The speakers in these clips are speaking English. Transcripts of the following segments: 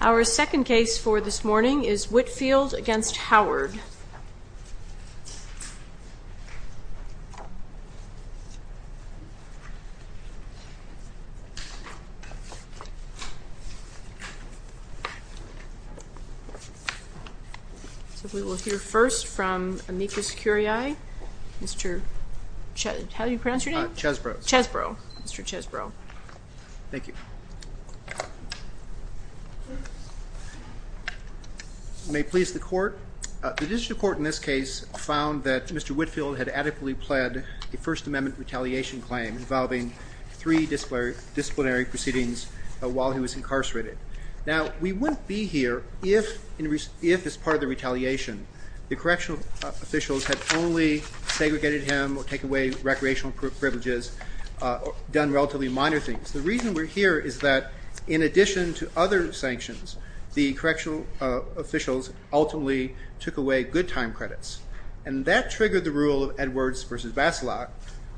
Our second case for this morning is Whitfield v. Howard. We will hear first from Amicus Curiae, Mr. Chesbrough, Mr. Chesbrough. Thank you. May it please the court. The judicial court in this case found that Mr. Whitfield had adequately pled the First Amendment retaliation claim involving three disciplinary proceedings while he was incarcerated. Now we wouldn't be here if as part of the retaliation the correctional officials had only segregated him or take away recreational privileges or done relatively minor things. The reason we're here is that in addition to other sanctions, the correctional officials ultimately took away good time credits. And that triggered the rule of Edwards v. Baselot,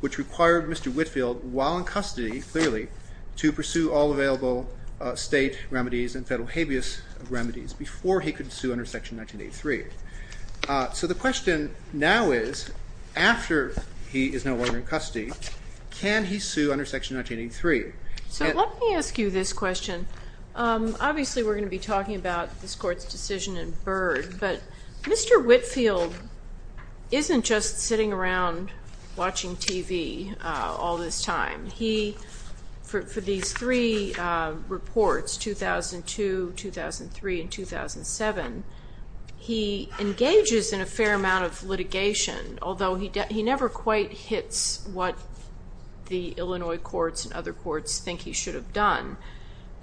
which required Mr. Whitfield, while in custody, clearly, to pursue all available state remedies and federal habeas remedies before he could sue under Section 1983. So the question now is, after he is no longer in custody, can he sue under Section 1983? So let me ask you this question. Obviously we're going to be talking about this court's decision in Byrd, but Mr. Whitfield isn't just sitting around watching TV all this time. He, for these three reports, 2002, 2003, and 2007, he engages in a fair amount of litigation, although he never quite hits what the Illinois courts and other courts think he should have done.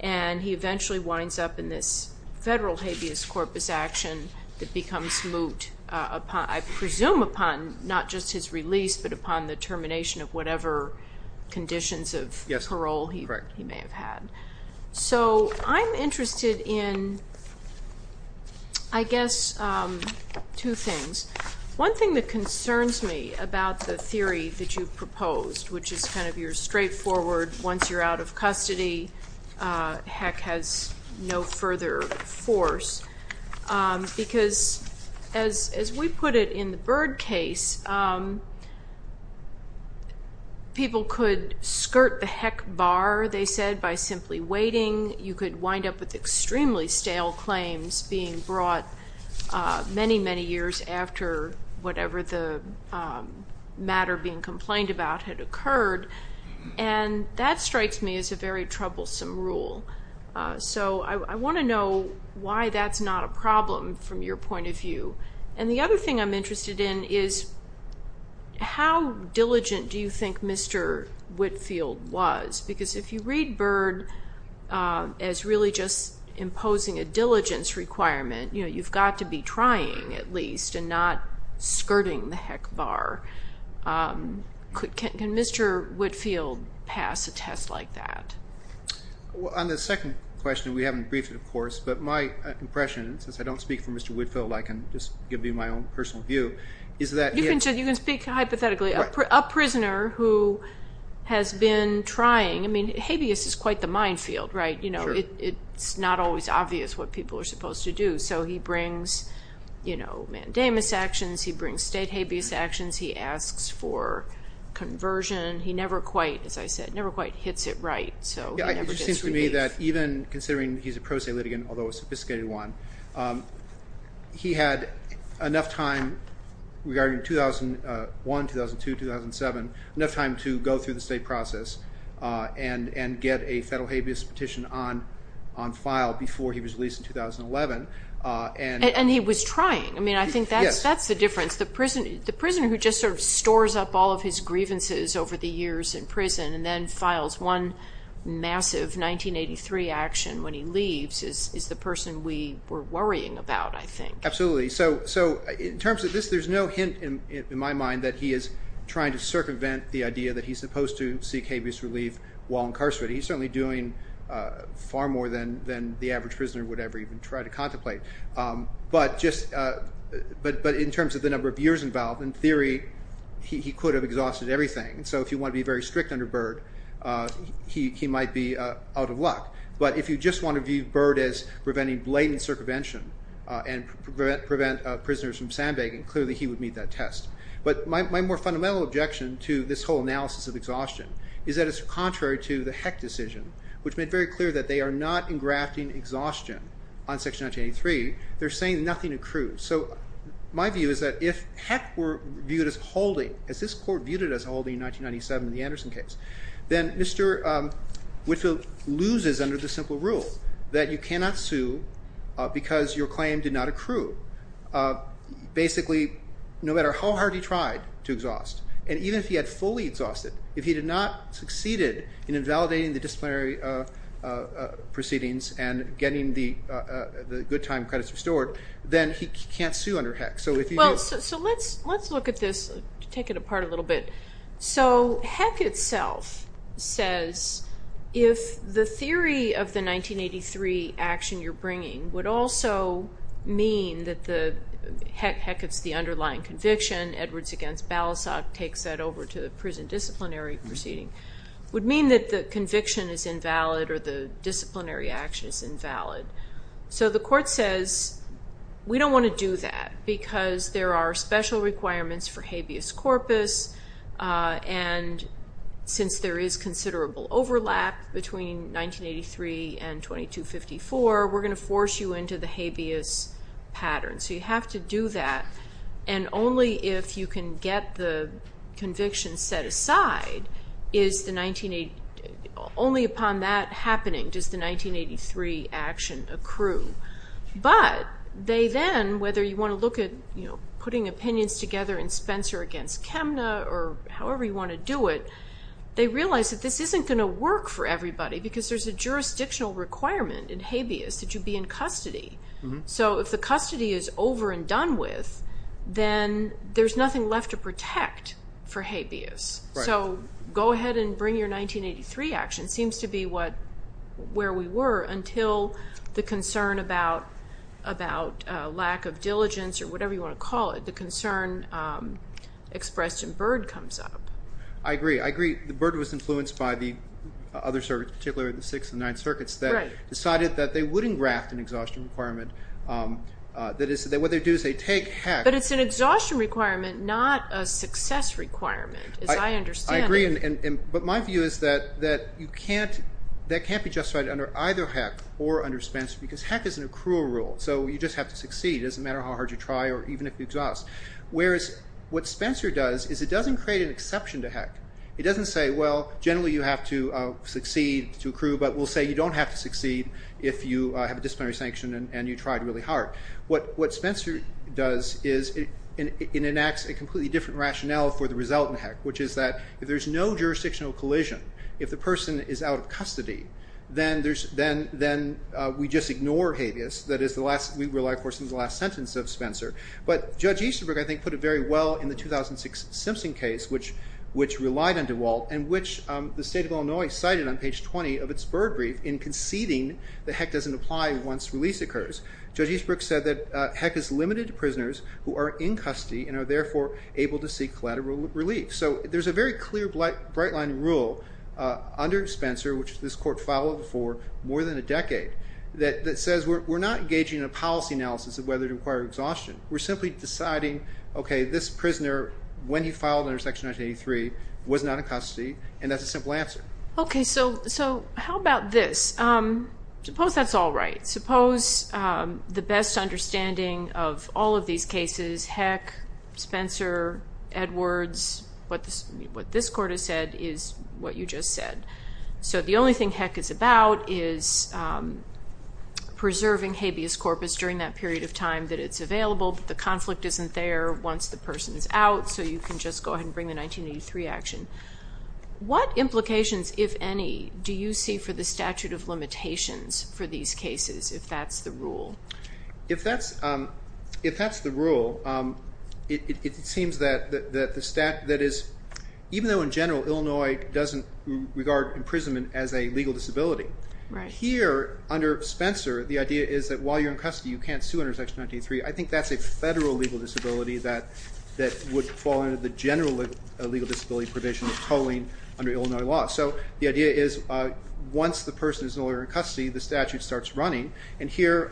And he eventually winds up in this federal habeas corpus action that becomes moot upon, I presume upon, not just his release, but upon the So I'm interested in, I guess, two things. One thing that concerns me about the theory that you've proposed, which is kind of your straightforward, once you're out of custody, heck, has no further force, because as we put it in the Byrd case, people could skirt the heck bar, they said, by simply waiting. You could wind up with extremely stale claims being brought many, many years after whatever the matter being complained about had occurred. And that strikes me as a very troublesome rule. So I want to know why that's not a problem from your point of How diligent do you think Mr. Whitfield was? Because if you read Byrd as really just imposing a diligence requirement, you've got to be trying, at least, and not skirting the heck bar. Can Mr. Whitfield pass a test like that? On the second question, we haven't briefed it, of course, but my impression, since I don't speak for Mr. Whitfield, I can just give you my own personal view. You can speak hypothetically. A prisoner who has been trying, I mean, habeas is quite the minefield, right? It's not always obvious what people are supposed to do. So he brings mandamus actions, he brings state habeas actions, he asks for conversion. He never quite, as I said, never quite hits it right. It seems to me that even considering he's a pro se litigant, although a pro se litigant, he had enough time regarding 2001, 2002, 2007, enough time to go through the state process and get a federal habeas petition on file before he was released in 2011. And he was trying. I mean, I think that's the difference. The prisoner who just sort of stores up all of his grievances over the years in prison and then files one massive 1983 action when he leaves is the person we were worrying about, I think. Absolutely. So in terms of this, there's no hint in my mind that he is trying to circumvent the idea that he's supposed to seek habeas relief while incarcerated. He's certainly doing far more than the average prisoner would ever even try to contemplate. But in terms of the number of years involved, in theory, he could have exhausted everything. So if you want to be very strict under Byrd, he might be out of luck. But if you just want to view Byrd as preventing blatant circumvention and prevent prisoners from sandbagging, clearly he would meet that test. But my more fundamental objection to this whole analysis of exhaustion is that it's contrary to the Heck decision, which made very clear that they are not engrafting exhaustion on Section 1983. They're saying nothing accrues. So my view is that if Heck were viewed as holding, as this court viewed it as holding in 1997 in the rule that you cannot sue because your claim did not accrue. Basically, no matter how hard he tried to exhaust, and even if he had fully exhausted, if he did not succeed in invalidating the disciplinary proceedings and getting the good time credits restored, then he can't sue under Heck. So let's look at this, take it apart a little bit. So Heck itself says if the theory of the 1983 action you're bringing would also mean that the Heck is the underlying conviction, Edwards against Balasag takes that over to the prison disciplinary proceeding, would mean that the conviction is invalid or the disciplinary action is invalid. So the court says we don't want to do that because there are special requirements for habeas corpus, and since there is considerable overlap between 1983 and 2254, we're going to force you into the habeas pattern. So you have to do that, and only if you can get the conviction set aside, only upon that happening does the 1983 action accrue. But they then, whether you want to look at putting opinions together in Spencer against This isn't going to work for everybody because there's a jurisdictional requirement in habeas that you be in custody. So if the custody is over and done with, then there's nothing left to protect for habeas. So go ahead and bring your 1983 action, seems to be where we were until the concern about lack of diligence or whatever you want to call it, the concern expressed in Byrd comes up. I agree. I agree. Byrd was influenced by the other circuits, particularly the Sixth and Ninth Circuits that decided that they wouldn't draft an exhaustion requirement. What they do is they take Heck. But it's an exhaustion requirement, not a success requirement, as I understand it. I agree, but my view is that you can't, that can't be justified under either Heck or under Spencer because Heck is an accrual rule. So you just have to succeed. It doesn't matter how hard you try or even if you exhaust. Whereas what Spencer does is it doesn't create an exception to Heck. It doesn't say, well, generally you have to succeed to accrue, but we'll say you don't have to succeed if you have a disciplinary sanction and you tried really hard. What Spencer does is it enacts a completely different rationale for the result in Heck, which is that if there's no jurisdictional collision, if the person is out of custody, then we just ignore habeas. That is the last, we rely of course on the last sentence of Simpson case which relied on DeWalt and which the state of Illinois cited on page 20 of its bird brief in conceding that Heck doesn't apply once release occurs. Judge Eastbrook said that Heck is limited to prisoners who are in custody and are therefore able to seek collateral relief. So there's a very clear bright line rule under Spencer, which this court followed for more than a decade, that says we're not engaging in a policy analysis of whether to require exhaustion. We're simply deciding, okay, this prisoner, when he filed under Section 1983, was not in custody and that's a simple answer. Okay, so how about this? Suppose that's all right. Suppose the best understanding of all of these cases, Heck, Spencer, Edwards, what this court has said is what you just said. So the only thing Heck is about is preserving habeas corpus during that period of time that it's available, but the conflict isn't there once the person is out, so you can just go ahead and bring the 1983 action. What implications, if any, do you see for the statute of limitations for these cases, if that's the rule? If that's the rule, it seems that even though in general Illinois doesn't regard imprisonment as a legal disability, here under Spencer the idea is that while you're in custody you can't sue under Section 1983. I think that's a federal legal disability that would fall under the general legal disability provision of tolling under Illinois law. So the idea is once the person is no longer in custody, the statute starts running, and here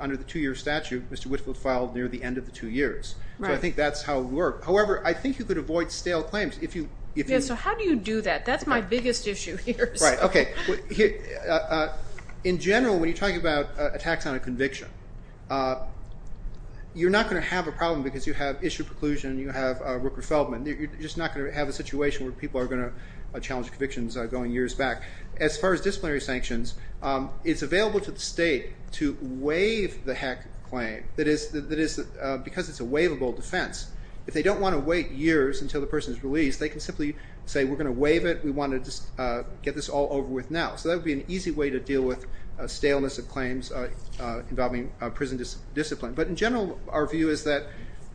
under the two-year statute, Mr. Whitfield filed near the end of the two years. So I think that's how it would work. However, I think you could avoid stale claims if you... Yeah, so how do you do that? That's my biggest issue here. Right, okay. In general, when you're talking about attacks on a conviction, you're not going to have a problem because you have issued preclusion, you have Rooker-Feldman. You're just not going to have a situation where people are going to challenge convictions going years back. As far as disciplinary sanctions, it's available to the state to waive the heck claim, because it's a waivable defense. If they don't want to wait years until the person is released, they can simply say, we're going to waive it. We want to just get this all over with now. So that would be an easy way to deal with staleness of claims involving prison discipline. But in general, our view is that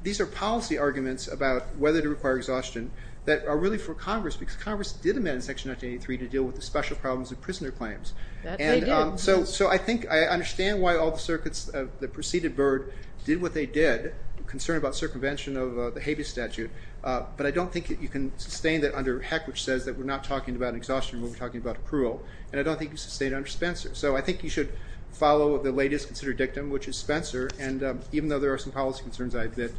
these are policy arguments about whether to require exhaustion that are really for Congress, because Congress did amend Section 1983 to deal with the special problems of prisoner claims. That they did. So I think I understand why all the circuits that preceded Byrd did what they did, concerned about circumvention of the Habeas Statute. But I don't think you can sustain that under Heck, which says that we're not talking about exhaustion, we're talking about accrual. And I don't think you can sustain it under Spencer. So I think you should follow the latest considered dictum, which is Spencer. And even though there are some policy concerns I admit,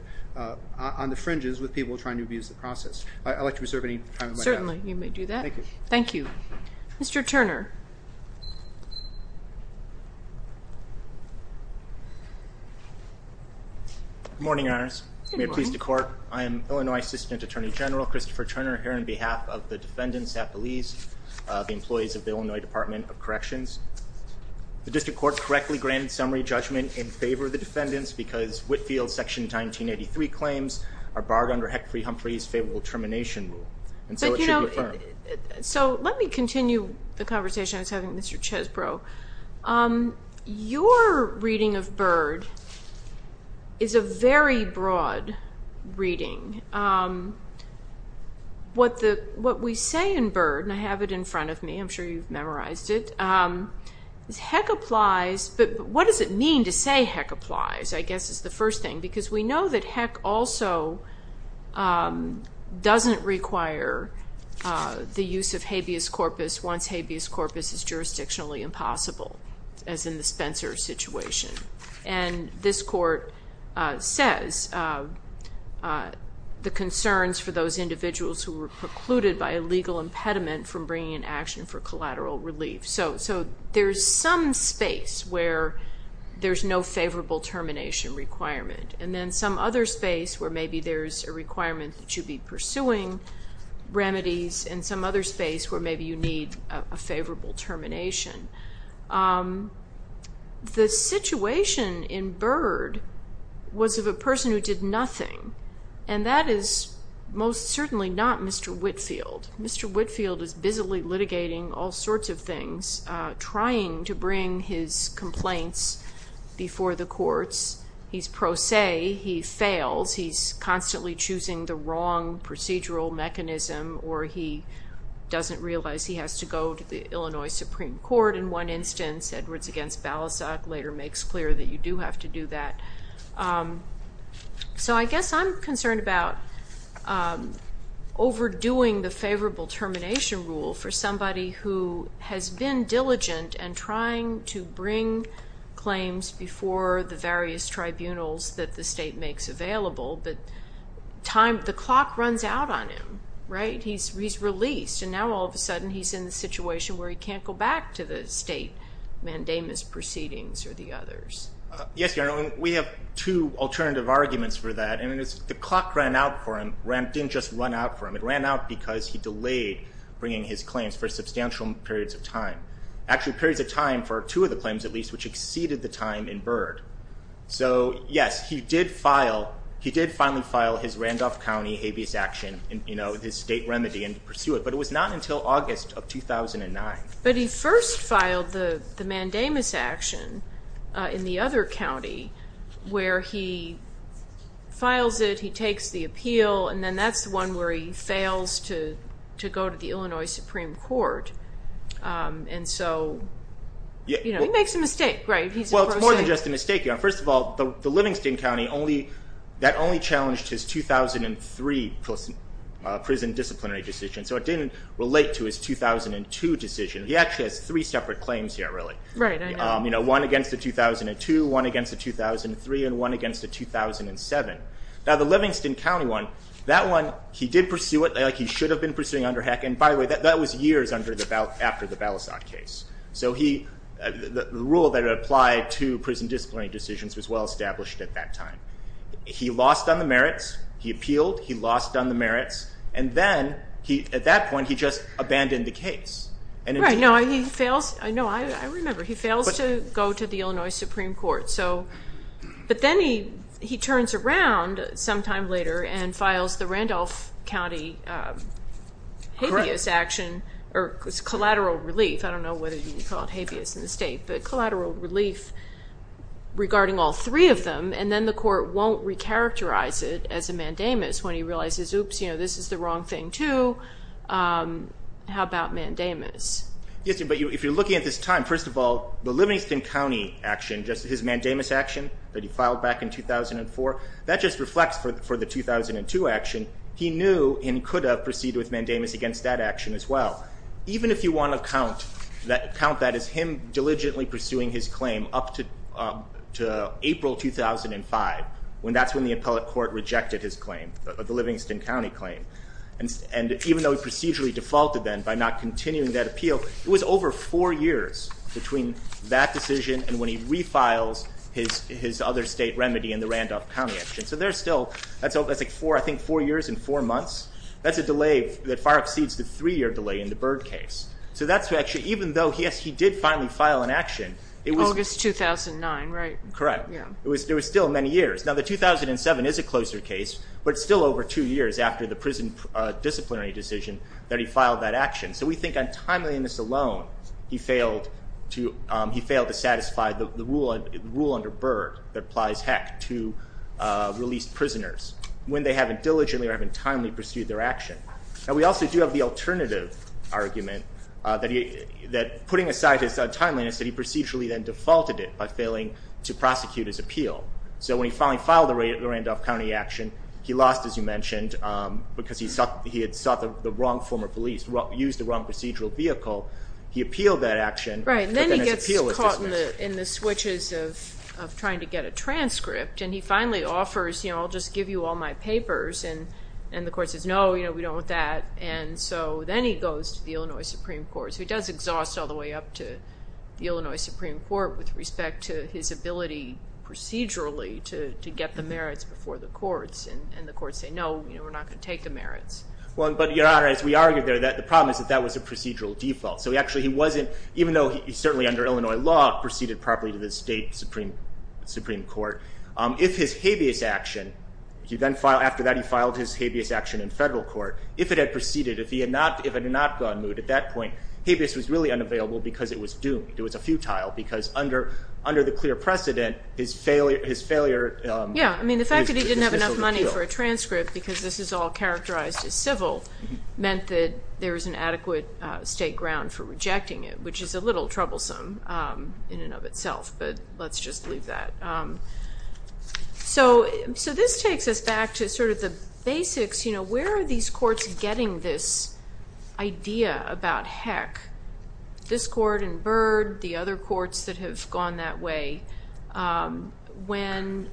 on the fringes with people trying to abuse the process. I'd like to reserve any time in my time. Certainly, you may do that. Thank you. Thank you. Mr. Turner. Good morning, Your Honors. May it please the Court. I am Illinois Assistant Attorney General Christopher Turner, here on behalf of the defendants at Belize, the employees of the Illinois Department of Corrections. The District Court correctly granted summary judgment in favor of the defendants, because Whitfield's Section 1983 claims are barred under Heck-Free-Humphrey's favorable termination rule. And so it should be affirmed. So let me continue the conversation I was having with Mr. Chesbrough. Your reading of Byrd is a very broad reading. What we say in Byrd, and I have it in front of me, I'm sure you've memorized it, is Heck applies, but what does it mean to say Heck applies, I guess is the first thing. Because we know that the use of habeas corpus, once habeas corpus is jurisdictionally impossible, as in the Spencer situation. And this Court says the concerns for those individuals who were precluded by a legal impediment from bringing in action for collateral relief. So there's some space where there's no favorable termination requirement. And then some other space where maybe there's a favorable termination. The situation in Byrd was of a person who did nothing. And that is most certainly not Mr. Whitfield. Mr. Whitfield is busily litigating all sorts of things, trying to bring his complaints before the courts. He's pro se. He fails. He's constantly choosing the wrong procedural mechanism, or he doesn't realize he has to go to the Illinois Supreme Court in one instance. Edwards against Balasag later makes clear that you do have to do that. So I guess I'm concerned about overdoing the favorable termination rule for somebody who has been diligent and trying to bring claims before the various tribunals that the state makes available. But the clock runs out on him, right? He's released. And now all of a sudden he's in the situation where he can't go back to the state mandamus proceedings or the others. Yes, Your Honor. We have two alternative arguments for that. I mean, the clock ran out for him. It didn't just run out for him. It ran out because he delayed bringing his claims for substantial periods of time. Actually periods of time for two of the claims at least, which exceeded the time in Byrd. So yes, he did finally file his Randolph County habeas action, his state remedy, and pursue it. But it was not until August of 2009. But he first filed the mandamus action in the other county where he files it, he takes the appeal, and then that's the one where he fails to go to the Illinois Supreme Court. And so he makes a mistake, right? Well, it's more than just a mistake, Your Honor. First of all, the Livingston County, that only challenged his 2003 prison disciplinary decision. So it didn't relate to his 2002 decision. He actually has three separate claims here, really. Right, I know. One against the 2002, one against the 2003, and one against the 2007. Now the Livingston County one, that one, he did pursue it like he should have been pursuing under HEC. And by the way, that was years after the Balasag case. So the rule that applied to prison disciplinary decisions was well established at that time. He lost on the merits, he appealed, he lost on the merits, and then at that point he just abandoned the case. Right, no, he fails, I remember, he fails to go to the Illinois Supreme Court. But then he turns around sometime later and files the action, or collateral relief, I don't know whether you call it habeas in the state, but collateral relief regarding all three of them, and then the court won't recharacterize it as a mandamus when he realizes, oops, this is the wrong thing too, how about mandamus? Yes, but if you're looking at this time, first of all, the Livingston County action, just his mandamus action that he filed back in 2004, that just reflects for the 2002 action. He knew and could have used mandamus against that action as well. Even if you want to count that as him diligently pursuing his claim up to April 2005, when that's when the appellate court rejected his claim, the Livingston County claim. And even though he procedurally defaulted then by not continuing that appeal, it was over four years between that decision and when he refiles his other state remedy in the Randolph County action. So there's still, that's like four years and four years is a delay that far exceeds the three-year delay in the Byrd case. So that's actually, even though he did finally file an action, it was... August 2009, right? Correct. It was still many years. Now the 2007 is a closer case, but it's still over two years after the prison disciplinary decision that he filed that action. So we think on timeliness alone, he failed to satisfy the rule under Byrd that applies heck to released prisoners when they haven't diligently or haven't timely pursued their action. And we also do have the alternative argument that putting aside his timeliness, that he procedurally then defaulted it by failing to prosecute his appeal. So when he finally filed the Randolph County action, he lost, as you mentioned, because he had sought the wrong former police, used the wrong procedural vehicle. He appealed that action, but then his appeal was dismissed. Right, and then he gets caught in the switches of trying to get a transcript and he finally offers, you know, I'll just give you all my papers. And the court says, no, you know, we don't want that. And so then he goes to the Illinois Supreme Court. So he does exhaust all the way up to the Illinois Supreme Court with respect to his ability procedurally to get the merits before the courts. And the courts say, no, you know, we're not going to take the merits. Well, but Your Honor, as we argued there, the problem is that that was a procedural default. So he actually, he wasn't, even though he certainly under the Supreme Court, if his habeas action, he then filed, after that he filed his habeas action in federal court, if it had proceeded, if he had not, if it had not gone moot at that point, habeas was really unavailable because it was doomed. It was a futile because under the clear precedent, his failure, his failure. Yeah, I mean, the fact that he didn't have enough money for a transcript because this is all characterized as civil meant that there was an adequate state ground for rejecting it, which is a little troublesome in and of itself. But let's just leave that. So, so this takes us back to sort of the basics, you know, where are these courts getting this idea about heck, this court and Byrd, the other courts that have gone that way, when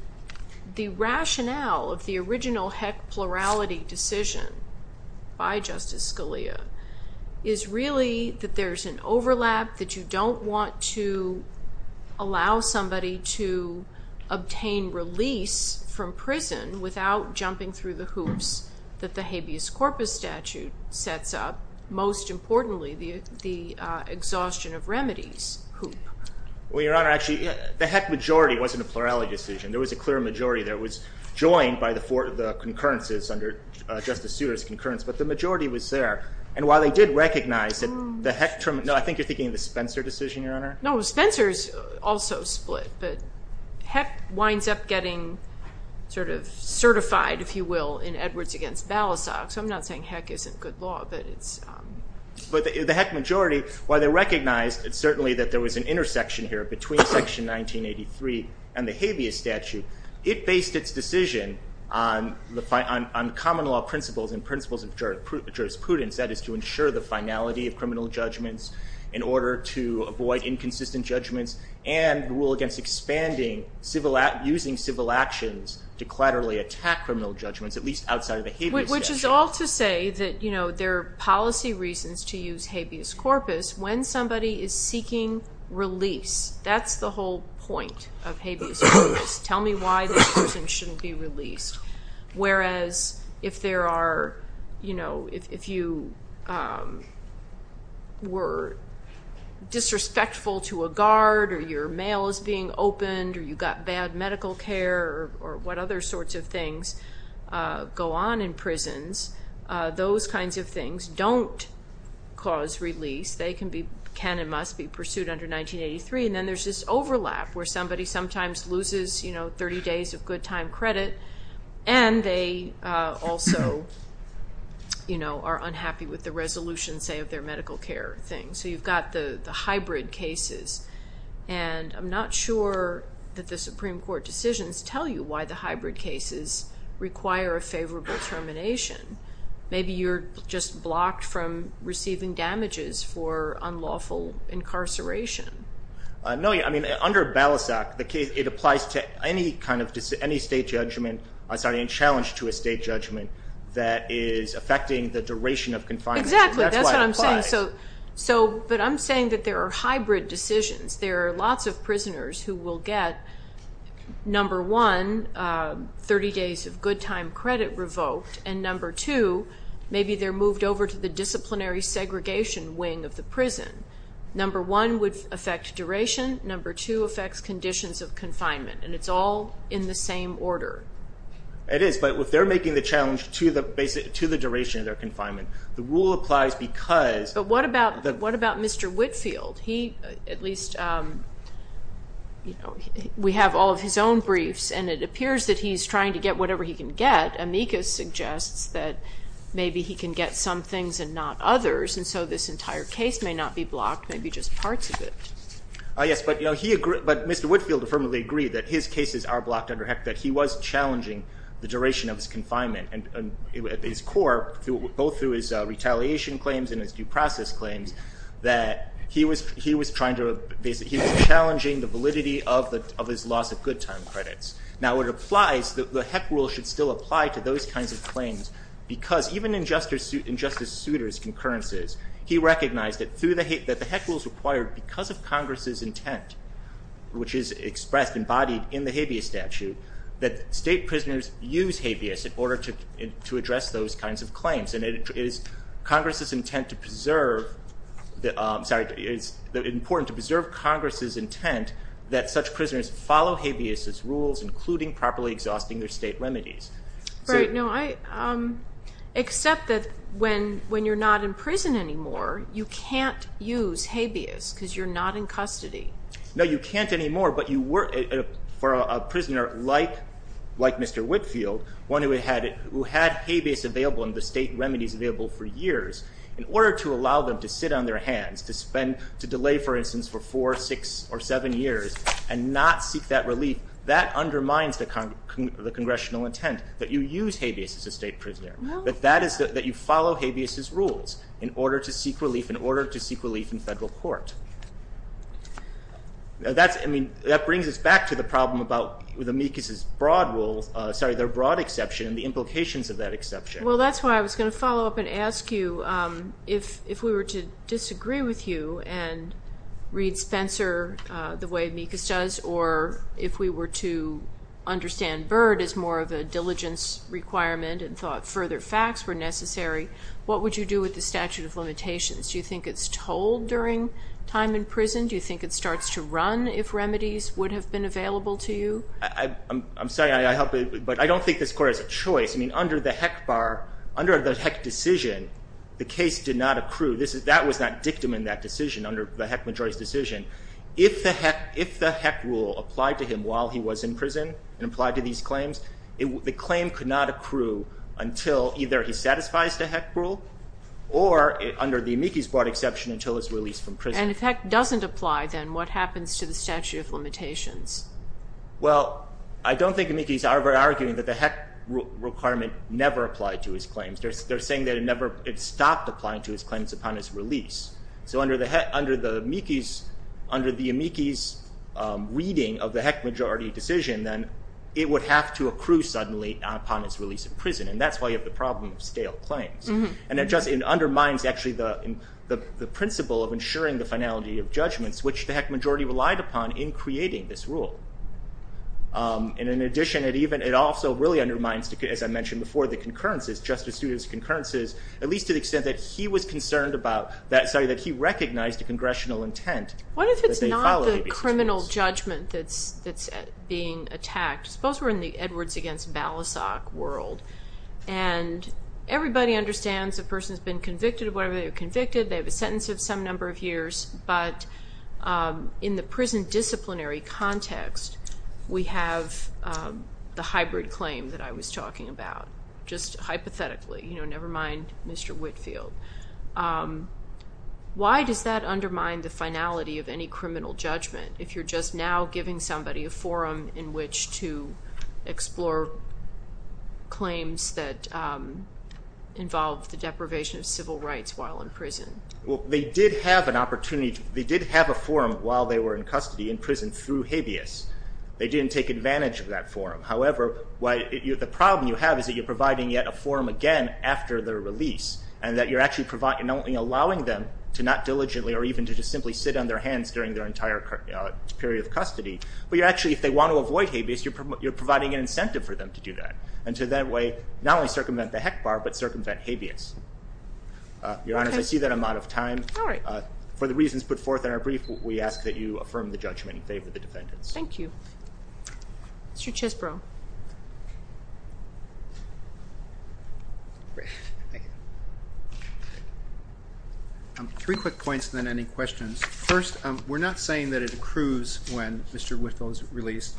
the rationale of the original heck plurality decision by Justice Scalia is really that there's an overlap, that you don't want to allow somebody to obtain release from prison without jumping through the hoops that the habeas corpus statute sets up, most importantly, the exhaustion of remedies hoop. Well, Your Honor, actually, the heck majority wasn't a plurality decision. There was a clear majority that was joined by the four of the concurrences under Justice Souter's concurrence, but the majority was there. And while they did recognize that the heck, no, I think you're thinking of the Spencer decision, Your Honor? No, Spencer's also split, but heck winds up getting sort of certified, if you will, in Edwards against Balasag. So I'm not saying heck isn't good law, but it's... But the heck majority, while they recognized certainly that there was an intersection here between Section 1983 and the habeas statute, it based its decision on common law principles and principles of jurisprudence, that is to ensure the finality of criminal judgments in order to avoid inconsistent judgments and rule against expanding using civil actions to clatterily attack criminal judgments, at least outside of the habeas statute. Which is all to say that there are policy reasons to use habeas corpus when somebody is seeking release. That's the whole point of habeas corpus. Tell me why this person shouldn't be released. Whereas if there are, you know, if you were disrespectful to a guard or your mail is being opened or you got bad medical care or what other sorts of things go on in prisons, those kinds of things don't cause release. They can and must be pursued under 1983. And then there's this overlap where somebody sometimes loses, you know, 30 days of good time credit and they also, you know, are unhappy with the resolution, say, of their medical care thing. So you've got the hybrid cases. And I'm not sure that the Supreme Court decisions tell you why the hybrid cases require a favorable termination. Maybe you're just blocked from receiving damages for unlawful incarceration. No, I mean, under Balasag, it applies to any kind of state judgment, sorry, any challenge to a state judgment that is affecting the duration of confinement. Exactly. That's what I'm saying. But I'm saying that there are hybrid decisions. There are lots of prisoners who will get, number one, 30 days of good time credit revoked, and number two, maybe they're moved over to the disciplinary segregation wing of the prison. Number one would affect duration. Number two affects conditions of confinement. And it's all in the same order. It is. But if they're making the challenge to the duration of their confinement, the rule applies because. But what about Mr. Whitfield? He, at least, you know, we have all of his own briefs. And it appears that he's trying to get whatever he can get. Amicus suggests that maybe he can get some things and not others. And so this entire case may not be blocked, maybe just parts of it. Yes. But, you know, he agrees, but Mr. Whitfield affirmatively agreed that his cases are blocked under HEC that he was challenging the duration of his confinement. And at his core, both through his retaliation claims and his due process claims, that he was trying to basically, he was challenging the validity of his loss of good time credits. Because even in Justice Souter's concurrences, he recognized that the HEC rules required, because of Congress's intent, which is expressed and embodied in the habeas statute, that state prisoners use habeas in order to address those kinds of claims. And it is Congress's intent to preserve, sorry, it's important to preserve Congress's intent that such prisoners follow habeas rules, including properly exhausting their state remedies. Right. No, except that when you're not in prison anymore, you can't use habeas because you're not in custody. No, you can't anymore, but you were, for a prisoner like Mr. Whitfield, one who had habeas available and the state remedies available for years, in order to allow them to sit on their hands, to delay, for instance, that undermines the Congressional intent that you use habeas as a state prisoner. That you follow habeas' rules in order to seek relief in federal court. That brings us back to the problem about the Mekis' broad rule, sorry, their broad exception and the implications of that exception. Well, that's why I was going to follow up and ask you, if we were to disagree with you and read Spencer the way Mekis does, or if we were to understand Byrd as more of a diligence requirement and thought further facts were necessary, what would you do with the statute of limitations? Do you think it's told during time in prison? Do you think it starts to run if remedies would have been available to you? I'm sorry, but I don't think this Court has a choice. I mean, under the Heck Bar, under the Heck decision, the case did not accrue. That was not dictum in that decision, under the Heck majority's decision. If the Heck rule applied to him while he was in prison and applied to these claims, the claim could not accrue until either he satisfies the Heck rule or under the Mekis' broad exception until his release from prison. And if Heck doesn't apply, then what happens to the statute of limitations? Well, I don't think Mekis are arguing that the Heck requirement never applied to his claims. They're saying that it stopped applying to his claims upon his release. So under the Mekis' reading of the Heck majority decision, then it would have to accrue suddenly upon his release from prison. And that's why you have the problem of stale claims. And it undermines actually the principle of ensuring the finality of judgments, which the Heck majority relied upon in creating this rule. And in addition, it also really undermines, as I mentioned before, the concurrences, justice students' concurrences, at least to the extent that he was concerned about that, sorry, that he recognized a congressional intent. What if it's not the criminal judgment that's being attacked? Suppose we're in the Edwards against Balasag world, and everybody understands the person's been convicted of whatever they were convicted. They have a sentence of some number of years. But in the prison disciplinary context, we have the hybrid claim that I was talking about, just hypothetically, you know, never mind Mr. Whitfield. Why does that undermine the finality of any criminal judgment if you're just now giving somebody a forum in which to explore claims that involve the deprivation of civil rights while in prison? Well, they did have an opportunity. They did have a forum while they were in custody in prison through habeas. They didn't take advantage of that forum. However, the problem you have is that you're providing yet a forum again after their release and that you're actually allowing them to not diligently or even to just simply sit on their hands during their entire period of custody. But you're actually, if they want to avoid habeas, you're providing an incentive for them to do that and to that way not only circumvent the HEC bar but circumvent habeas. Your Honor, I see that I'm out of time. All right. For the reasons put forth in our brief, we ask that you affirm the judgment in favor of the defendants. Thank you. Mr. Chesbrough. Three quick points and then any questions. First, we're not saying that it accrues when Mr. Whitfield is released.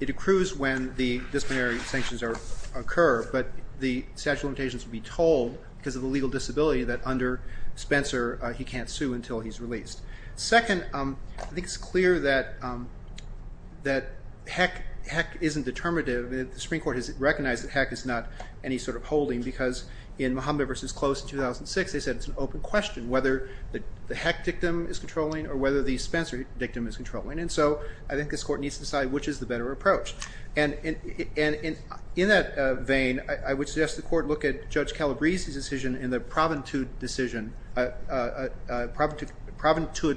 It accrues when the disciplinary sanctions occur, but the statute of limitations would be told because of the legal disability that under Spencer he can't sue until he's released. Second, I think it's clear that HEC isn't determinative. The Supreme Court has recognized that HEC is not any sort of holding because in Mohammed v. Close in 2006 they said it's an open question whether the HEC dictum is controlling or whether the Spencer dictum is controlling. And so I think this Court needs to decide which is the better approach. And in that vein, I would suggest the Court look at Judge Calabrese's decision in the Proventude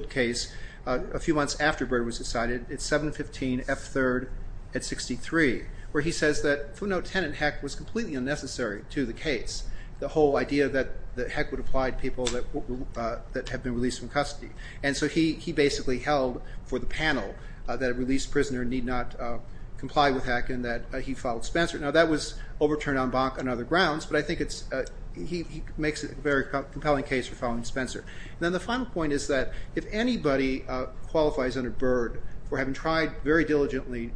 case a few months after Byrd was decided. It's 715 F. 3rd at 63 where he says that footnote 10 in HEC was completely unnecessary to the case, the whole idea that HEC would apply to people that have been released from custody. And so he basically held for the panel that a released prisoner need not comply with HEC and that he followed Spencer. Now that was overturned on other grounds, but I think he makes a very compelling case for following Spencer. And then the final point is that if anybody qualifies under Byrd for having tried very diligently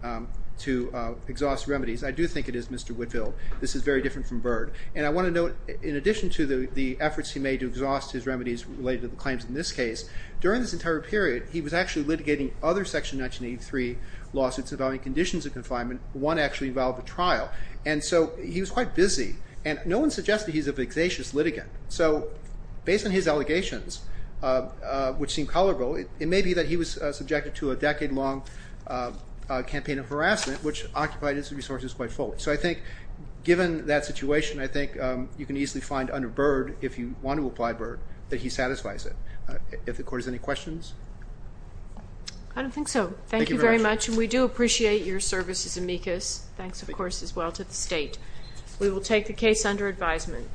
to exhaust remedies, I do think it is Mr. Whitfield. This is very different from Byrd. And I want to note in addition to the efforts he made to exhaust his remedies related to the claims in this case, during this entire period he was actually litigating other Section 1983 lawsuits about any conditions of confinement. One actually involved a trial. And so he was quite busy. And no one suggested he's a vexatious litigant. So based on his allegations, which seem colorful, it may be that he was subjected to a decade-long campaign of harassment, which occupied his resources quite fully. So I think given that situation, I think you can easily find under Byrd, if you want to apply Byrd, that he satisfies it. If the Court has any questions? I don't think so. Thank you very much. And we do appreciate your service as amicus. Thanks, of course, as well to the State. We will take the case under advisement.